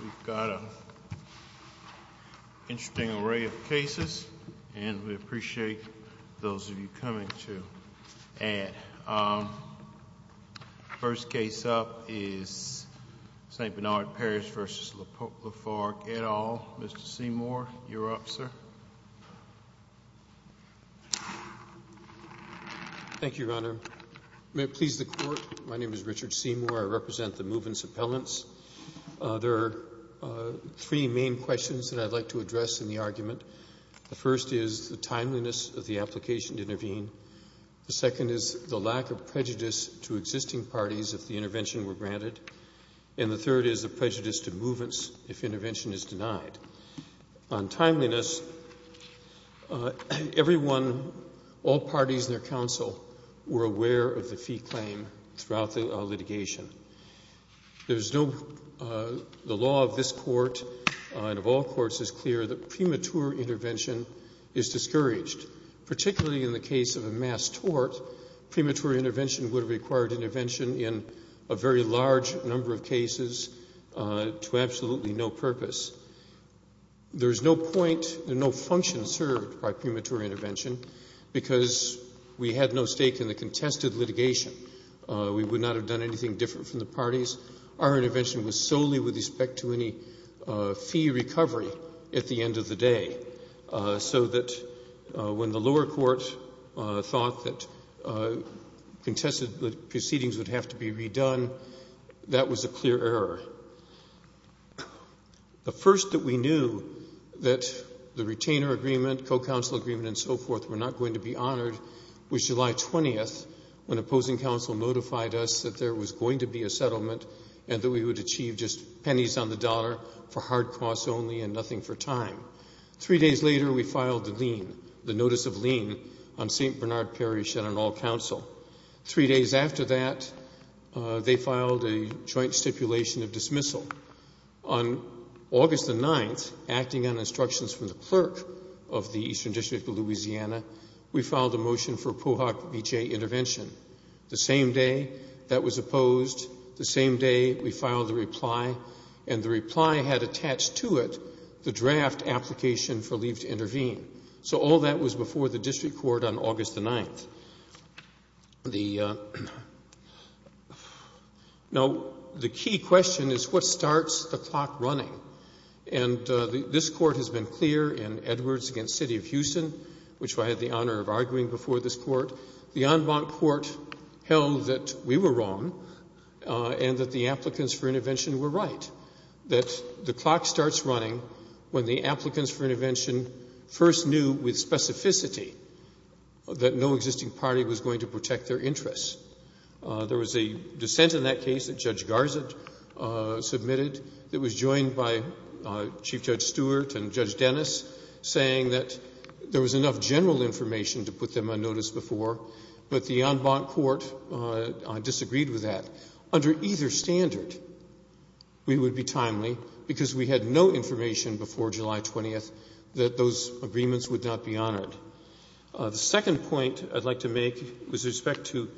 We've got an interesting array of cases, and we appreciate those of you coming to add. First case up is St. Bernard Parish v. Lafarge, et al. Mr. Seymour, you're up, sir. Thank you, Your Honor. May it please the Court, my name is Richard Seymour. I represent the Mouvance appellants. There are three main questions that I'd like to address in the argument. The first is the timeliness of the application to intervene. The second is the lack of prejudice to existing parties if the intervention were granted. And the third is the prejudice to Mouvance if intervention is denied. On timeliness, everyone, all parties and their counsel, were aware of the fee claim throughout the litigation. The law of this Court and of all courts is clear that premature intervention is discouraged. Particularly in the case of a mass tort, premature intervention would require intervention in a very large number of cases to absolutely no purpose. There is no point and no function served by premature intervention because we had no stake in the contested litigation. We would not have done anything different from the parties. Our intervention was solely with respect to any fee recovery at the end of the day, so that when the lower court thought that contested proceedings would have to be redone, that was a clear error. The first that we knew that the retainer agreement, co-counsel agreement, and so forth were not going to be honored was July 20th when opposing counsel notified us that there was going to be a settlement and that we would achieve just pennies on the dollar for hard costs only and nothing for time. Three days later, we filed the notice of lien on St. Bernard Parish and on all counsel. Three days after that, they filed a joint stipulation of dismissal. On August the 9th, acting on instructions from the clerk of the Eastern District of Louisiana, we filed a motion for POHOC-BJ intervention. The same day that was opposed, the same day we filed the reply, and the reply had attached to it the draft application for leave to intervene. So all that was before the district court on August the 9th. Now, the key question is what starts the clock running? And this Court has been clear in Edwards v. City of Houston, which I had the honor of arguing before this Court, the en banc court held that we were wrong and that the applicants for intervention were right, that the clock starts running when the applicants for intervention first knew with specificity that no existing party was going to protect their interests. There was a dissent in that case that Judge Garza submitted that was joined by Chief Judge Stewart and Judge Dennis saying that there was enough general information to put them on notice before, but the en banc court disagreed with that. Under either standard, we would be timely because we had no information before July 20th that those agreements would not be honored. The second point I'd like to make with respect to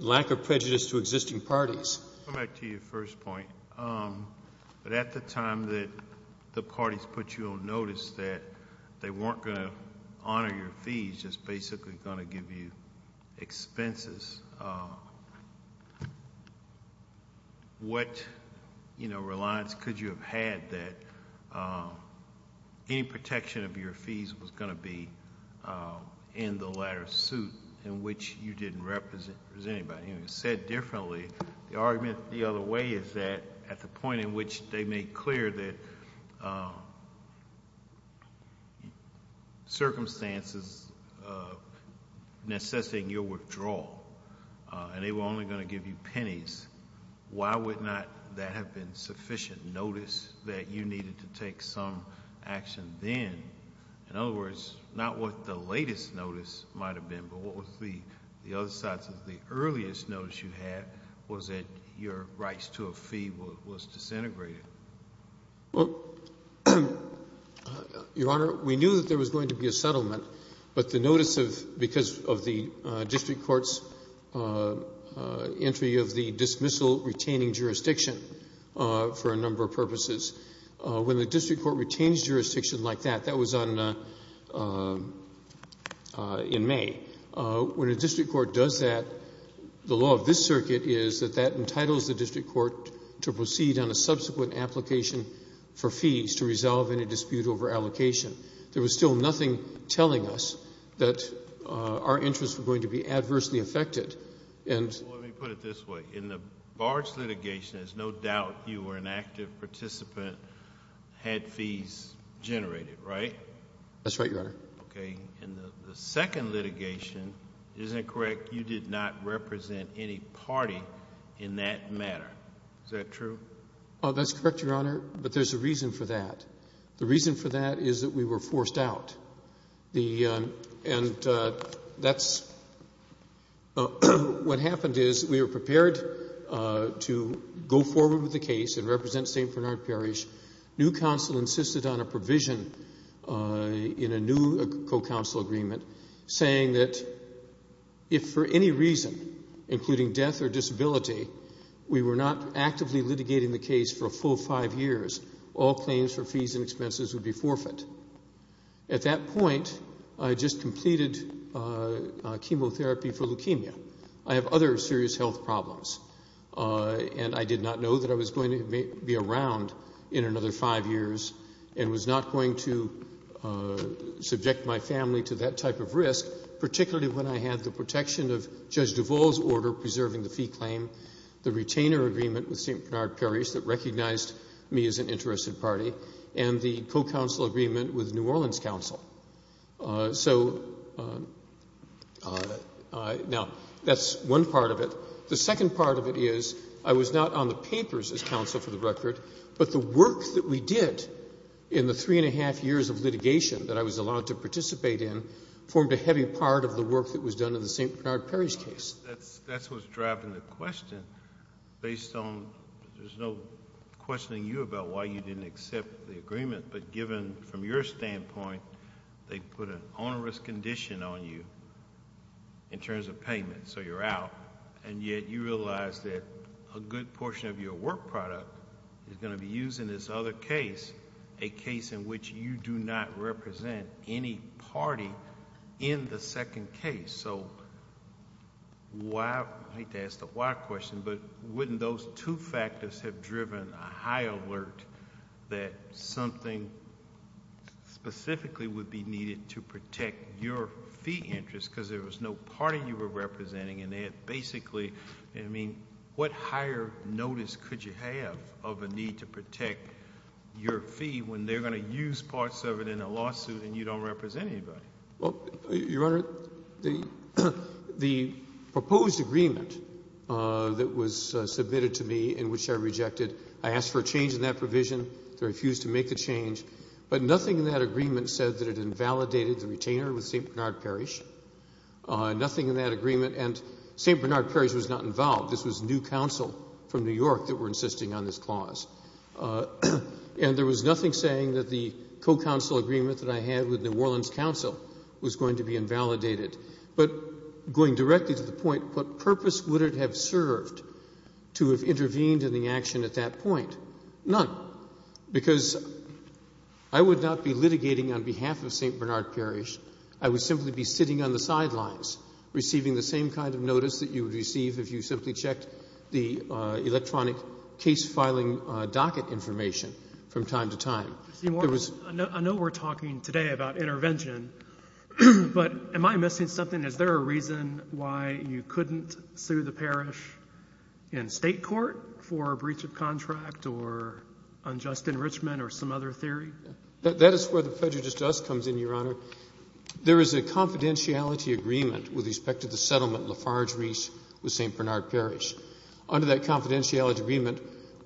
lack of prejudice to existing parties. Go back to your first point. But at the time that the parties put you on notice that they weren't going to honor your fees, which is basically going to give you expenses, what reliance could you have had that any protection of your fees was going to be in the latter suit in which you didn't represent anybody? The argument the other way is that at the point in which they made clear that circumstances necessitating your withdrawal and they were only going to give you pennies, why would not that have been sufficient notice that you needed to take some action then? In other words, not what the latest notice might have been, but what was the other side's? The earliest notice you had was that your rights to a fee was disintegrated. Your Honor, we knew that there was going to be a settlement, but the notice because of the district court's entry of the dismissal retaining jurisdiction for a number of purposes. When the district court retains jurisdiction like that, that was in May, when a district court does that, the law of this circuit is that that entitles the district court to proceed on a subsequent application for fees to resolve any dispute over allocation. There was still nothing telling us that our interests were going to be adversely affected. Let me put it this way. In the Barge litigation, there's no doubt you were an active participant, had fees generated, right? That's right, Your Honor. Okay. In the second litigation, isn't it correct, you did not represent any party in that matter? Is that true? That's correct, Your Honor, but there's a reason for that. The reason for that is that we were forced out. And that's what happened is we were prepared to go forward with the case and represent St. Bernard Parish. New counsel insisted on a provision in a new co-counsel agreement saying that if for any reason, including death or disability, we were not actively litigating the case for a full five years, all claims for fees and expenses would be forfeit. At that point, I had just completed chemotherapy for leukemia. I have other serious health problems. And I did not know that I was going to be around in another five years and was not going to subject my family to that type of risk, particularly when I had the protection of Judge Duvall's order preserving the fee claim, the retainer agreement with St. Bernard Parish that recognized me as an interested party, and the co-counsel agreement with New Orleans counsel. So now that's one part of it. The second part of it is I was not on the papers as counsel for the record, but the work that we did in the three and a half years of litigation that I was allowed to participate in formed a heavy part of the work that was done in the St. Bernard Parish case. That's what's driving the question based on... There's no questioning you about why you didn't accept the agreement, but given from your standpoint, they put an onerous condition on you in terms of payment, so you're out, and yet you realize that a good portion of your work product is going to be used in this other case, a case in which you do not represent any party in the second case. So why... I hate to ask the why question, but wouldn't those two factors have driven a high alert that something specifically would be needed to protect your fee interest because there was no party you were representing, and they had basically... I mean, what higher notice could you have of a need to protect your fee when they're going to use parts of it in a lawsuit and you don't represent anybody? Well, Your Honor, the proposed agreement that was submitted to me in which I rejected, I asked for a change in that provision. They refused to make the change, but nothing in that agreement said that it invalidated the retainer with St. Bernard Parish. Nothing in that agreement... and St. Bernard Parish was not involved. This was new counsel from New York that were insisting on this clause. And there was nothing saying that the co-counsel agreement that I had with New Orleans Counsel was going to be invalidated. But going directly to the point, what purpose would it have served to have intervened in the action at that point? None, because I would not be litigating on behalf of St. Bernard Parish. I would simply be sitting on the sidelines receiving the same kind of notice that you would receive if you simply checked the electronic case filing docket information from time to time. I know we're talking today about intervention, but am I missing something? Is there a reason why you couldn't sue the parish in state court for a breach of contract or unjust enrichment or some other theory? That is where the prejudice to us comes in, Your Honor. There is a confidentiality agreement with respect to the settlement Lafarge reached with St. Bernard Parish. Under that confidentiality agreement,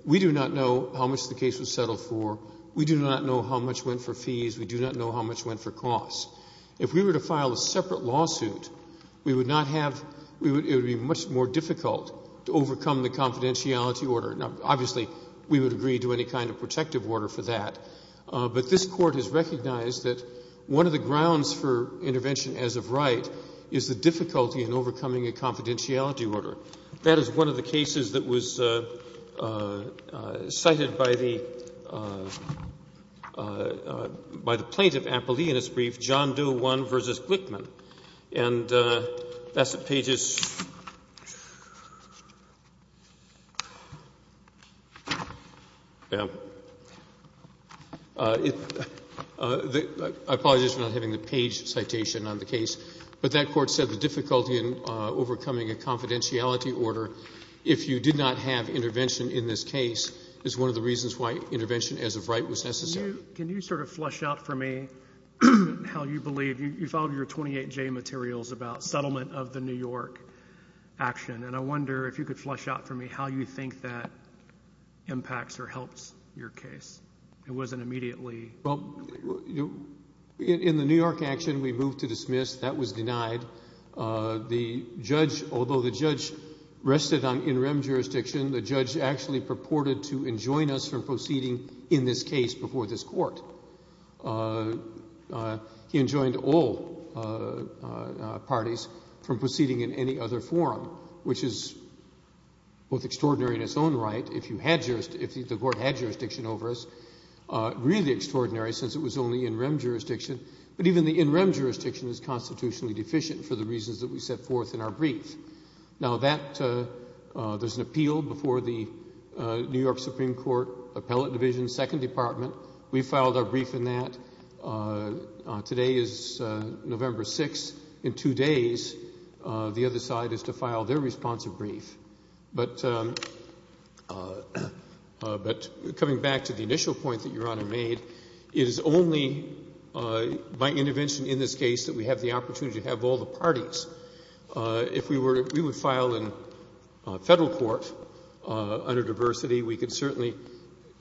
we do not know how much the case was settled for. We do not know how much went for fees. We do not know how much went for costs. If we were to file a separate lawsuit, we would not have... it would be much more difficult to overcome the confidentiality order. Now, obviously, we would agree to any kind of protective order for that. But this Court has recognized that one of the grounds for intervention as of right is the difficulty in overcoming a confidentiality order. That is one of the cases that was cited by the plaintiff, Ampelee, in his brief, John Doe 1 v. Glickman. And that's the pages... I apologize for not having the page citation on the case. But that Court said the difficulty in overcoming a confidentiality order, if you did not have intervention in this case, is one of the reasons why intervention as of right was necessary. Can you sort of flesh out for me how you believe... you filed your 28J materials about settlement of the New York action. And I wonder if you could flesh out for me how you think that impacts or helps your case. It wasn't immediately... Well, in the New York action, we moved to dismiss. That was denied. Although the judge rested on in rem jurisdiction, the judge actually purported to enjoin us from proceeding in this case before this Court. He enjoined all parties from proceeding in any other forum, which is both extraordinary in its own right, if the Court had jurisdiction over us, really extraordinary since it was only in rem jurisdiction. But even the in rem jurisdiction is constitutionally deficient for the reasons that we set forth in our brief. Now that... there's an appeal before the New York Supreme Court Appellate Division, Second Department. We filed our brief in that. Today is November 6th. In two days, the other side is to file their responsive brief. But coming back to the initial point that Your Honor made, it is only by intervention in this case that we have the opportunity to have all the parties. If we were... if we would file in federal court under diversity, we could certainly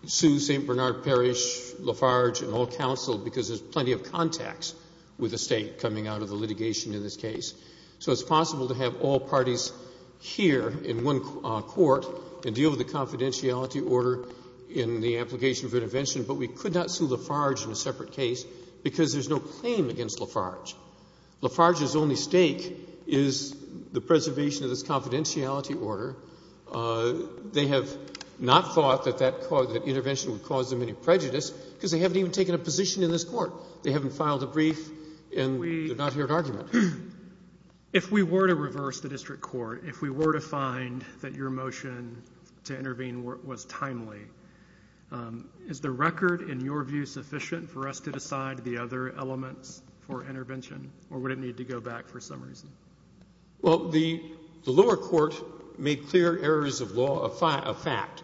sue St. Bernard Parish, Lafarge, and all counsel because there's plenty of contacts with the State coming out of the litigation in this case. So it's possible to have all parties here in one court and deal with the confidentiality order in the application for intervention. But we could not sue Lafarge in a separate case because there's no claim against Lafarge. Lafarge's only stake is the preservation of this confidentiality order. They have not thought that that intervention would cause them any prejudice because they haven't even taken a position in this court. They haven't filed a brief, and we did not hear an argument. If we were to reverse the district court, if we were to find that your motion to intervene was timely, is the record in your view sufficient for us to decide the other elements for intervention? Or would it need to go back for some reason? Well, the lower court made clear errors of law a fact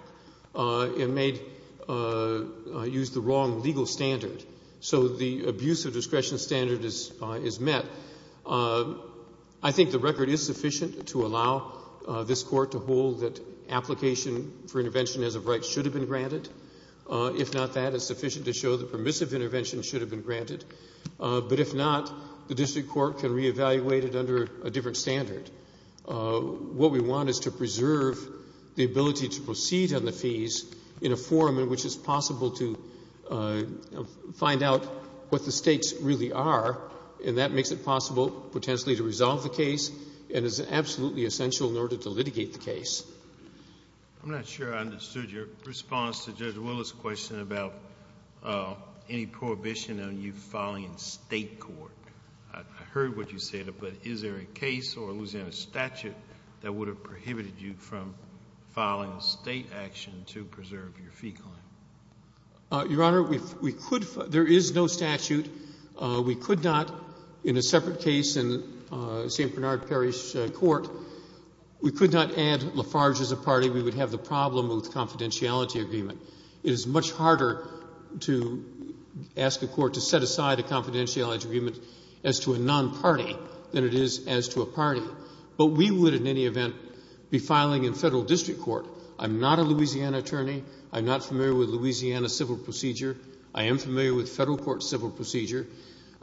and made... used the wrong legal standard. So the abuse of discretion standard is met. I think the record is sufficient to allow this court to hold that application for intervention as of right should have been granted. If not that, it's sufficient to show that permissive intervention should have been granted. But if not, the district court can reevaluate it under a different standard. What we want is to preserve the ability to proceed on the fees in a form in which it's possible to find out what the stakes really are, and that makes it possible potentially to resolve the case and is absolutely essential in order to litigate the case. I'm not sure I understood your response to Judge Willis' question about any prohibition on you filing in state court. I heard what you said, but is there a case or a Louisiana statute that would have prohibited you from filing a state action to preserve your fee claim? Your Honor, we could... there is no statute. We could not, in a separate case in St. Bernard Parish Court, we could not add Lafarge as a party. We would have the problem with confidentiality agreement. It is much harder to ask a court to set aside a confidentiality agreement as to a non-party than it is as to a party. But we would, in any event, be filing in federal district court. I'm not a Louisiana attorney. I'm not familiar with Louisiana civil procedure. I am familiar with federal court civil procedure.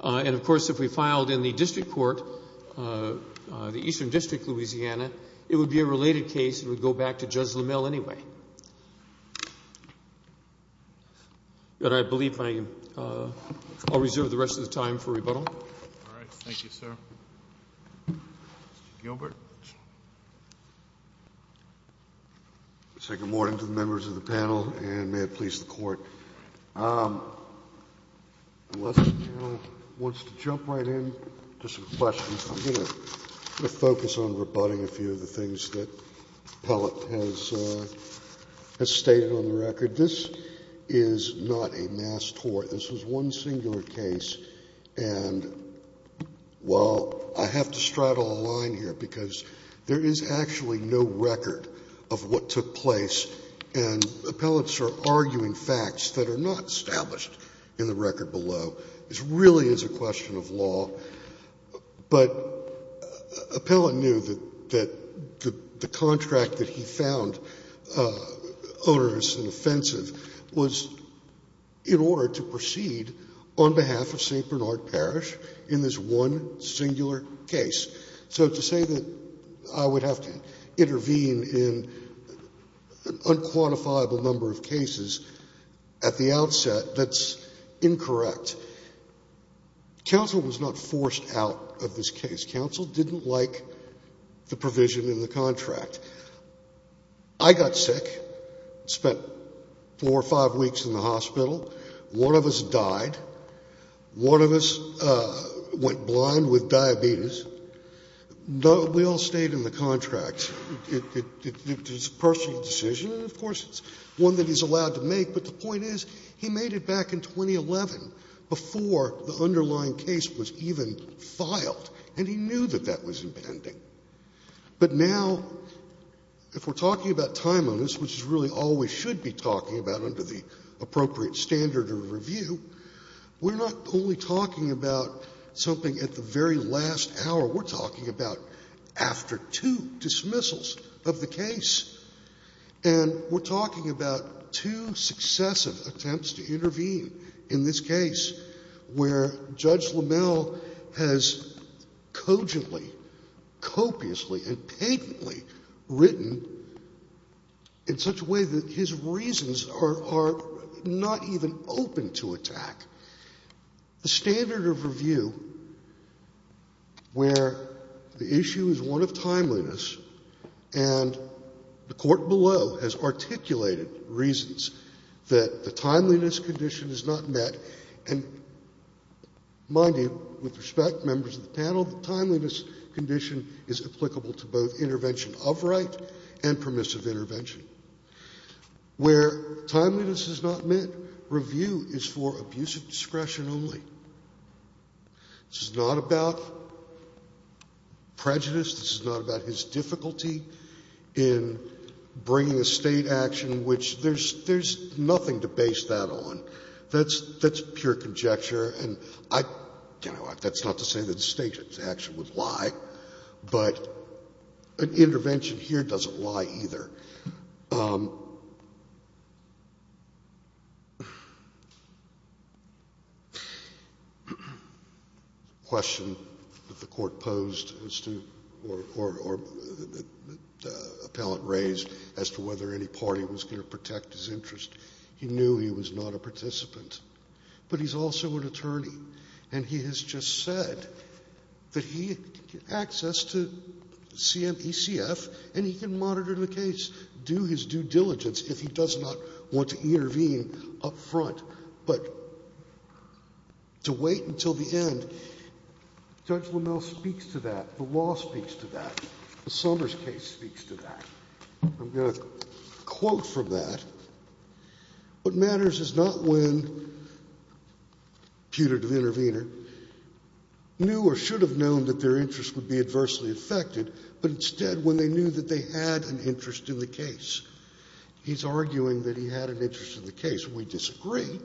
And, of course, if we filed in the district court, the Eastern District, Louisiana, it would be a related case. It would go back to Judge LaMille anyway. Your Honor, I believe I'll reserve the rest of the time for rebuttal. All right. Thank you, sir. Mr. Gilbert. I say good morning to the members of the panel and may it please the Court. Unless the panel wants to jump right in to some questions, I'm going to focus on rebutting a few of the things that Pellitt has stated on the record. This is not a mass tort. This is one singular case. And, well, I have to straddle a line here because there is actually no record of what took place. And Appellant's are arguing facts that are not established in the record below. This really is a question of law. But Appellant knew that the contract that he found onerous and offensive was in order to proceed on behalf of St. Bernard Parish in this one singular case. So to say that I would have to intervene in an unquantifiable number of cases at the outset, that's incorrect. But counsel was not forced out of this case. Counsel didn't like the provision in the contract. I got sick, spent four or five weeks in the hospital. One of us died. One of us went blind with diabetes. We all stayed in the contract. It's a personal decision and, of course, it's one that he's allowed to make. But the point is, he made it back in 2011 before the underlying case was even filed. And he knew that that was impending. But now, if we're talking about time onerous, which is really all we should be talking about under the appropriate standard of review, we're not only talking about something at the very last hour. We're talking about after two dismissals of the case. And we're talking about two successive attempts to intervene in this case where Judge LaMelle has cogently, copiously, and patently written in such a way that his reasons are not even open to attack. The standard of review where the issue is one of timeliness, and the Court below has articulated reasons that the timeliness condition is not met. And, mind you, with respect, members of the panel, the timeliness condition is applicable to both intervention of right and permissive intervention. Where timeliness is not met, review is for abusive discretion only. This is not about prejudice. This is not about his difficulty in bringing a State action, which there's nothing to base that on. That's pure conjecture. And that's not to say that a State action would lie. But an intervention here doesn't lie either. The question that the Court posed or the appellant raised as to whether any party was going to protect his interest, he knew he was not a participant. But he's also an attorney, and he has just said that he had access to CMECF, and he can monitor the case, do his due diligence, if he does not want to intervene up front. But to wait until the end, Judge Lamel speaks to that. The law speaks to that. The Summers case speaks to that. I'm going to quote from that. What matters is not when, putative intervener, knew or should have known that their client had an interest in the case. He's arguing that he had an interest in the case. We disagree.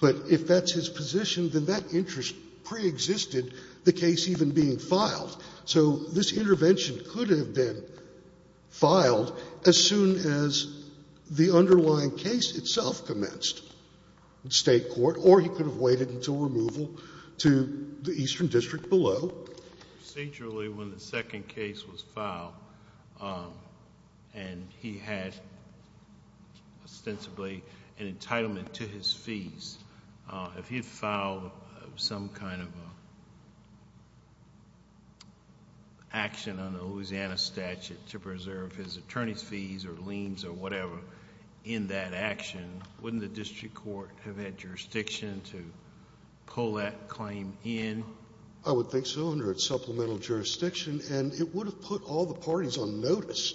But if that's his position, then that interest preexisted the case even being filed. So this intervention could have been filed as soon as the underlying case itself commenced in State court, or he could have waited until removal to the eastern district below. Procedurally, when the second case was filed, and he had ostensibly an entitlement to his fees, if he had filed some kind of action on a Louisiana statute to preserve his attorney's fees or liens or whatever in that action, wouldn't the district court have had jurisdiction to pull that claim in? I would think so, under its supplemental jurisdiction. And it would have put all the parties on notice.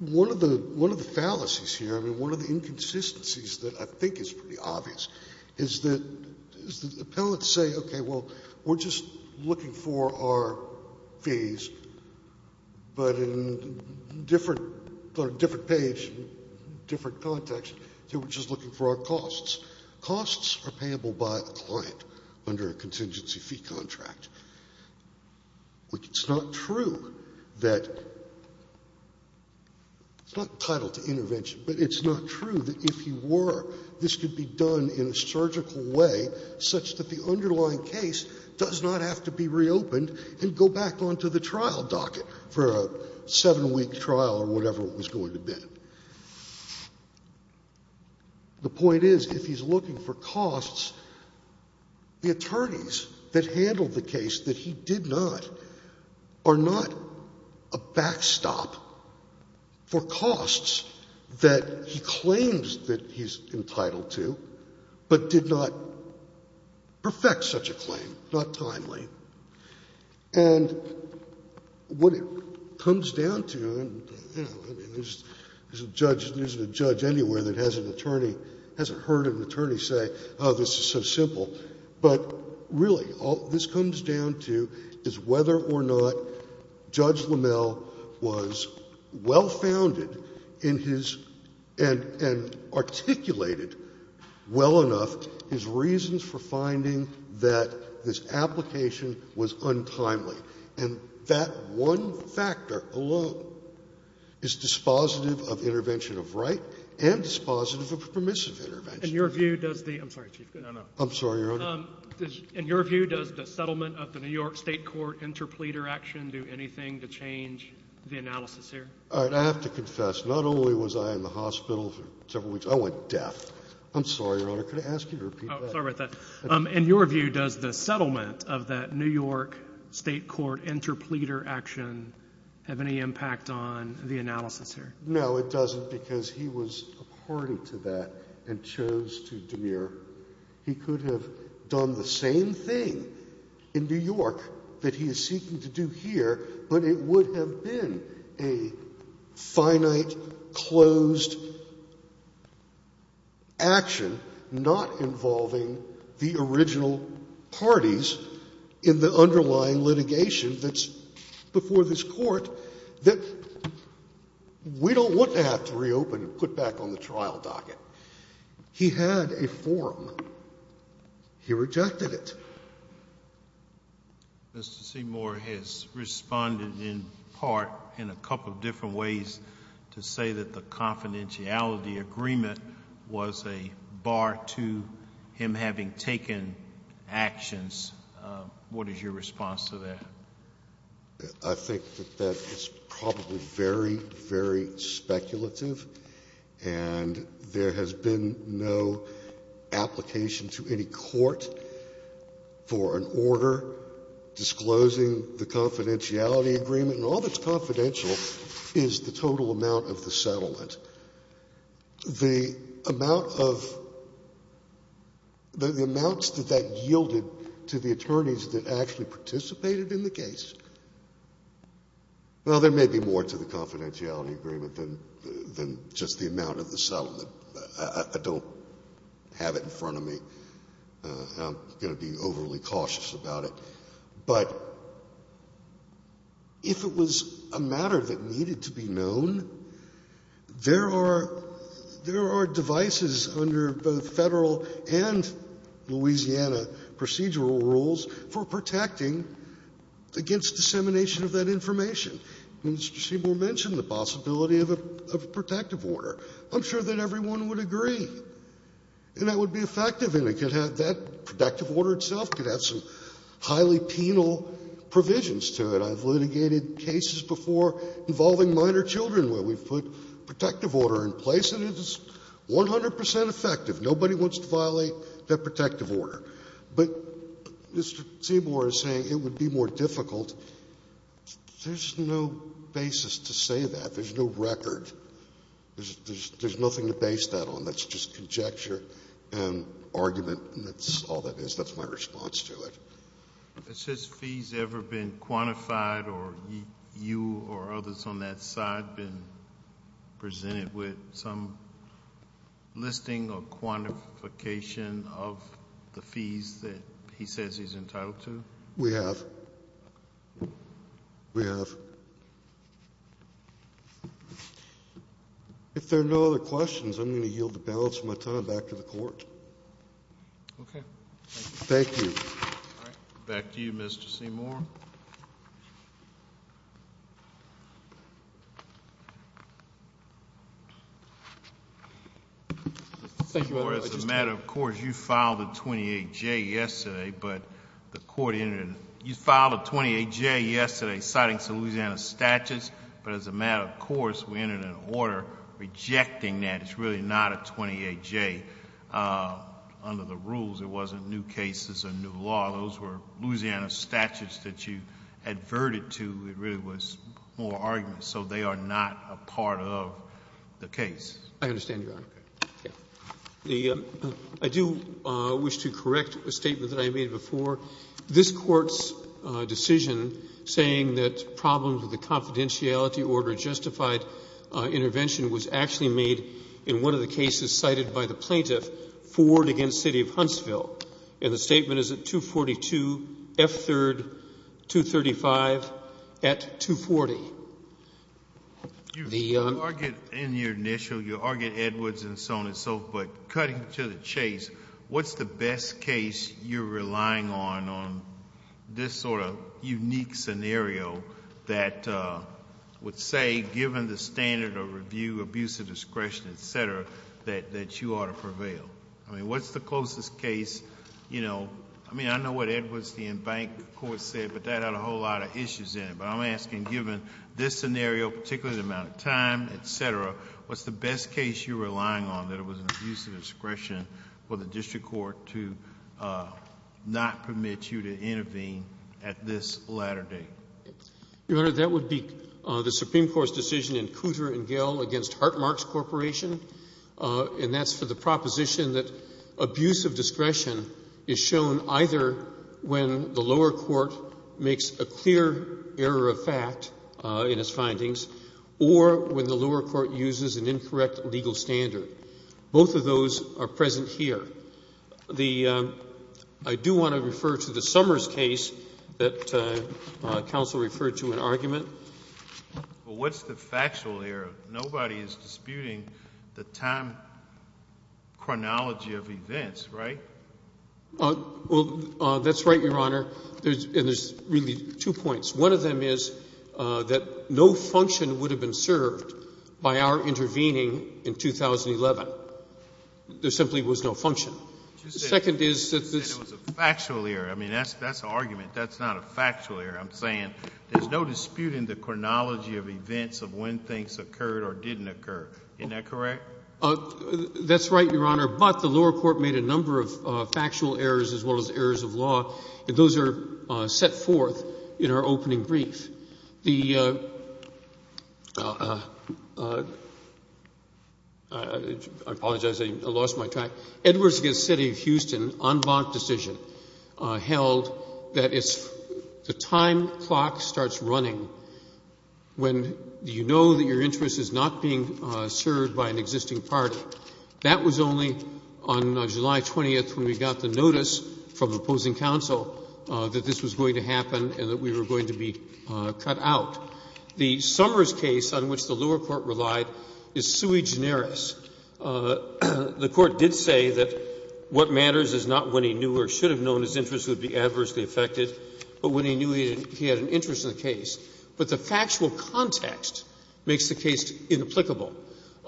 One of the fallacies here, I mean, one of the inconsistencies that I think is pretty obvious is that appellants say, okay, well, we're just looking for our fees, but in different page, different context, we're just looking for our costs. Costs are payable by a client under a contingency fee contract, which it's not true that — it's not entitled to intervention, but it's not true that if he were, this could be done in a surgical way such that the underlying case does not have to be reopened and go back onto the trial docket for a 7-week trial or whatever it was going to be. And the point is, if he's looking for costs, the attorneys that handled the case that he did not are not a backstop for costs that he claims that he's entitled to but did not perfect such a claim, not timely. And what it comes down to, and, you know, there's a judge anywhere that has an attorney, hasn't heard an attorney say, oh, this is so simple. But really, all this comes down to is whether or not Judge LaMelle was well-founded in his — and articulated well enough his reasons for finding that this application was untimely. And that one factor alone is dispositive of intervention of right and dispositive of permissive intervention. In your view, does the — I'm sorry, Chief, I don't know. I'm sorry, Your Honor. In your view, does the settlement of the New York State court interpleader action do anything to change the analysis here? All right. I have to confess, not only was I in the hospital for several weeks. I went deaf. I'm sorry, Your Honor. Could I ask you to repeat that? Oh, sorry about that. In your view, does the settlement of that New York State court interpleader action have any impact on the analysis here? No, it doesn't, because he was a party to that and chose to demur. He could have done the same thing in New York that he is seeking to do here, but it is a finite, closed action not involving the original parties in the underlying litigation that's before this Court that we don't want to have to reopen and put back on the trial docket. He had a forum. He rejected it. Mr. Seymour has responded in part in a couple of different ways to say that the confidentiality agreement was a bar to him having taken actions. What is your response to that? I think that that is probably very, very speculative, and there has been no application to any court for an order disclosing the confidentiality agreement, and all that's confidential is the total amount of the settlement. The amount of the amounts that that yielded to the attorneys that actually participated in the case, well, there may be more to the confidentiality agreement than just the amount of the settlement. I don't have it in front of me. I'm going to be overly cautious about it. But if it was a matter that needed to be known, there are devices under both Federal and Louisiana procedural rules for protecting against dissemination of that information. Mr. Seymour mentioned the possibility of a protective order. I'm sure that everyone would agree. And that would be effective, and it could have that protective order itself, could have some highly penal provisions to it. I've litigated cases before involving minor children where we've put protective order in place, and it is 100 percent effective. Nobody wants to violate that protective order. But Mr. Seymour is saying it would be more difficult. There's no basis to say that. There's no record. There's nothing to base that on. That's just conjecture and argument, and that's all that is. That's my response to it. Has his fees ever been quantified or you or others on that side been presented with some listing or quantification of the fees that he says he's entitled to? We have. We have. If there are no other questions, I'm going to yield the balance of my time back to the Court. Okay. Thank you. All right. Thank you, Your Honor. Mr. Seymour, as a matter of course, you filed a 28J yesterday, but the Court entered it. You filed a 28J yesterday citing some Louisiana statutes. But as a matter of course, we entered an order rejecting that. It's really not a 28J. Under the rules, it wasn't new cases or new law. Those were Louisiana statutes that you adverted to. It really was more arguments. So they are not a part of the case. I understand, Your Honor. I do wish to correct a statement that I made before. This Court's decision saying that problems with the confidentiality order justified intervention was actually made in one of the cases cited by the plaintiff, Ford against City of Huntsville. And the statement is at 242, F-3rd, 235, at 240. You argued in your initial, you argued Edwards and so on and so forth. But cutting to the chase, what's the best case you're relying on, on this sort of unique scenario that would say, given the standard of review, abuse of discretion, et cetera, that you ought to prevail? I mean, what's the closest case, you know... I mean, I know what Edwards, the in-bank court said, but that had a whole lot of issues in it. But I'm asking, given this scenario, particularly the amount of time, et cetera, what's the best case you're relying on, that it was an abuse of discretion for the district court to not permit you to intervene at this latter date? Your Honor, that would be the Supreme Court's decision in Cooter and Gell against Hart-Marx Corporation. And that's for the proposition that abuse of discretion is shown either when the lower court makes a clear error of fact in its findings or when the lower court uses an incorrect legal standard. Both of those are present here. I do want to refer to the Summers case that counsel referred to in argument. Well, what's the factual error? Nobody is disputing the time chronology of events, right? Well, that's right, Your Honor. And there's really two points. One of them is that no function would have been served by our intervening in 2011. There simply was no function. The second is that this... And it was a factual error. I mean, that's the argument. That's not a factual error. I'm saying there's no dispute in the chronology of events of when things occurred or didn't occur. Isn't that correct? That's right, Your Honor. But the lower court made a number of factual errors as well as errors of law, and those are set forth in our opening brief. The... I apologize. I lost my track. Edwards v. City of Houston en banc decision held that it's the time clock starts running when you know that your interest is not being served by an existing party. That was only on July 20th when we got the notice from opposing counsel that this was going to happen and that we were going to be cut out. The Summers case on which the lower court relied is sui generis. The Court did say that what matters is not when he knew or should have known his interest would be adversely affected, but when he knew he had an interest in the But the factual context makes the case inapplicable.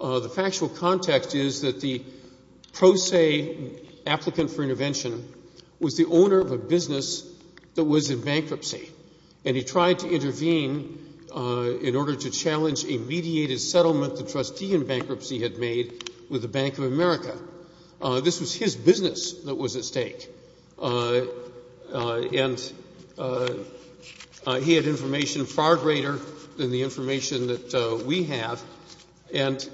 The factual context is that the pro se applicant for intervention was the owner of a business that was in bankruptcy, and he tried to intervene in order to challenge a mediated settlement the trustee in bankruptcy had made with the Bank of America. This was his business that was at stake, and he had information far greater than the And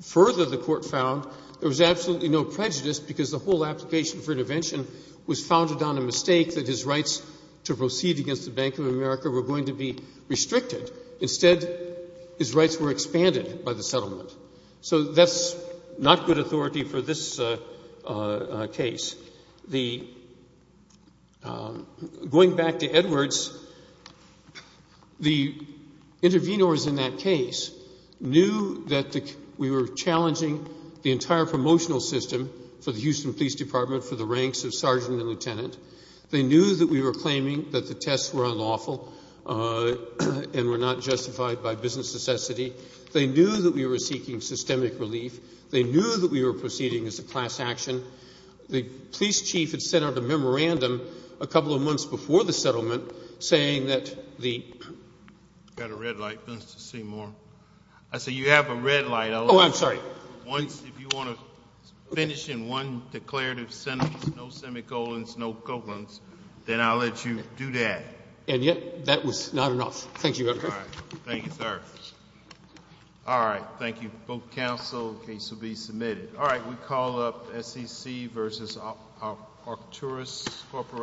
further, the Court found there was absolutely no prejudice because the whole application for intervention was founded on a mistake that his rights to proceed against the Bank of America were going to be restricted. Instead, his rights were expanded by the settlement. So that's not good authority for this case. Going back to Edwards, the intervenors in that case knew that we were challenging the entire promotional system for the Houston Police Department for the ranks of sergeant and lieutenant. They knew that we were claiming that the tests were unlawful and were not justified by business necessity. They knew that we were seeking systemic relief. They knew that we were proceeding as a class action. The police chief had sent out a memorandum a couple of months before the settlement saying that the I've got a red light. Let's just see more. I see you have a red light. Oh, I'm sorry. Once, if you want to finish in one declarative sentence, no semicolons, no colons, then I'll let you do that. And yet that was not enough. Thank you, Your Honor. All right. Thank you, sir. All right. Thank you. Both counsel. The case will be submitted. All right. We call up SEC versus Arcturus Corporation.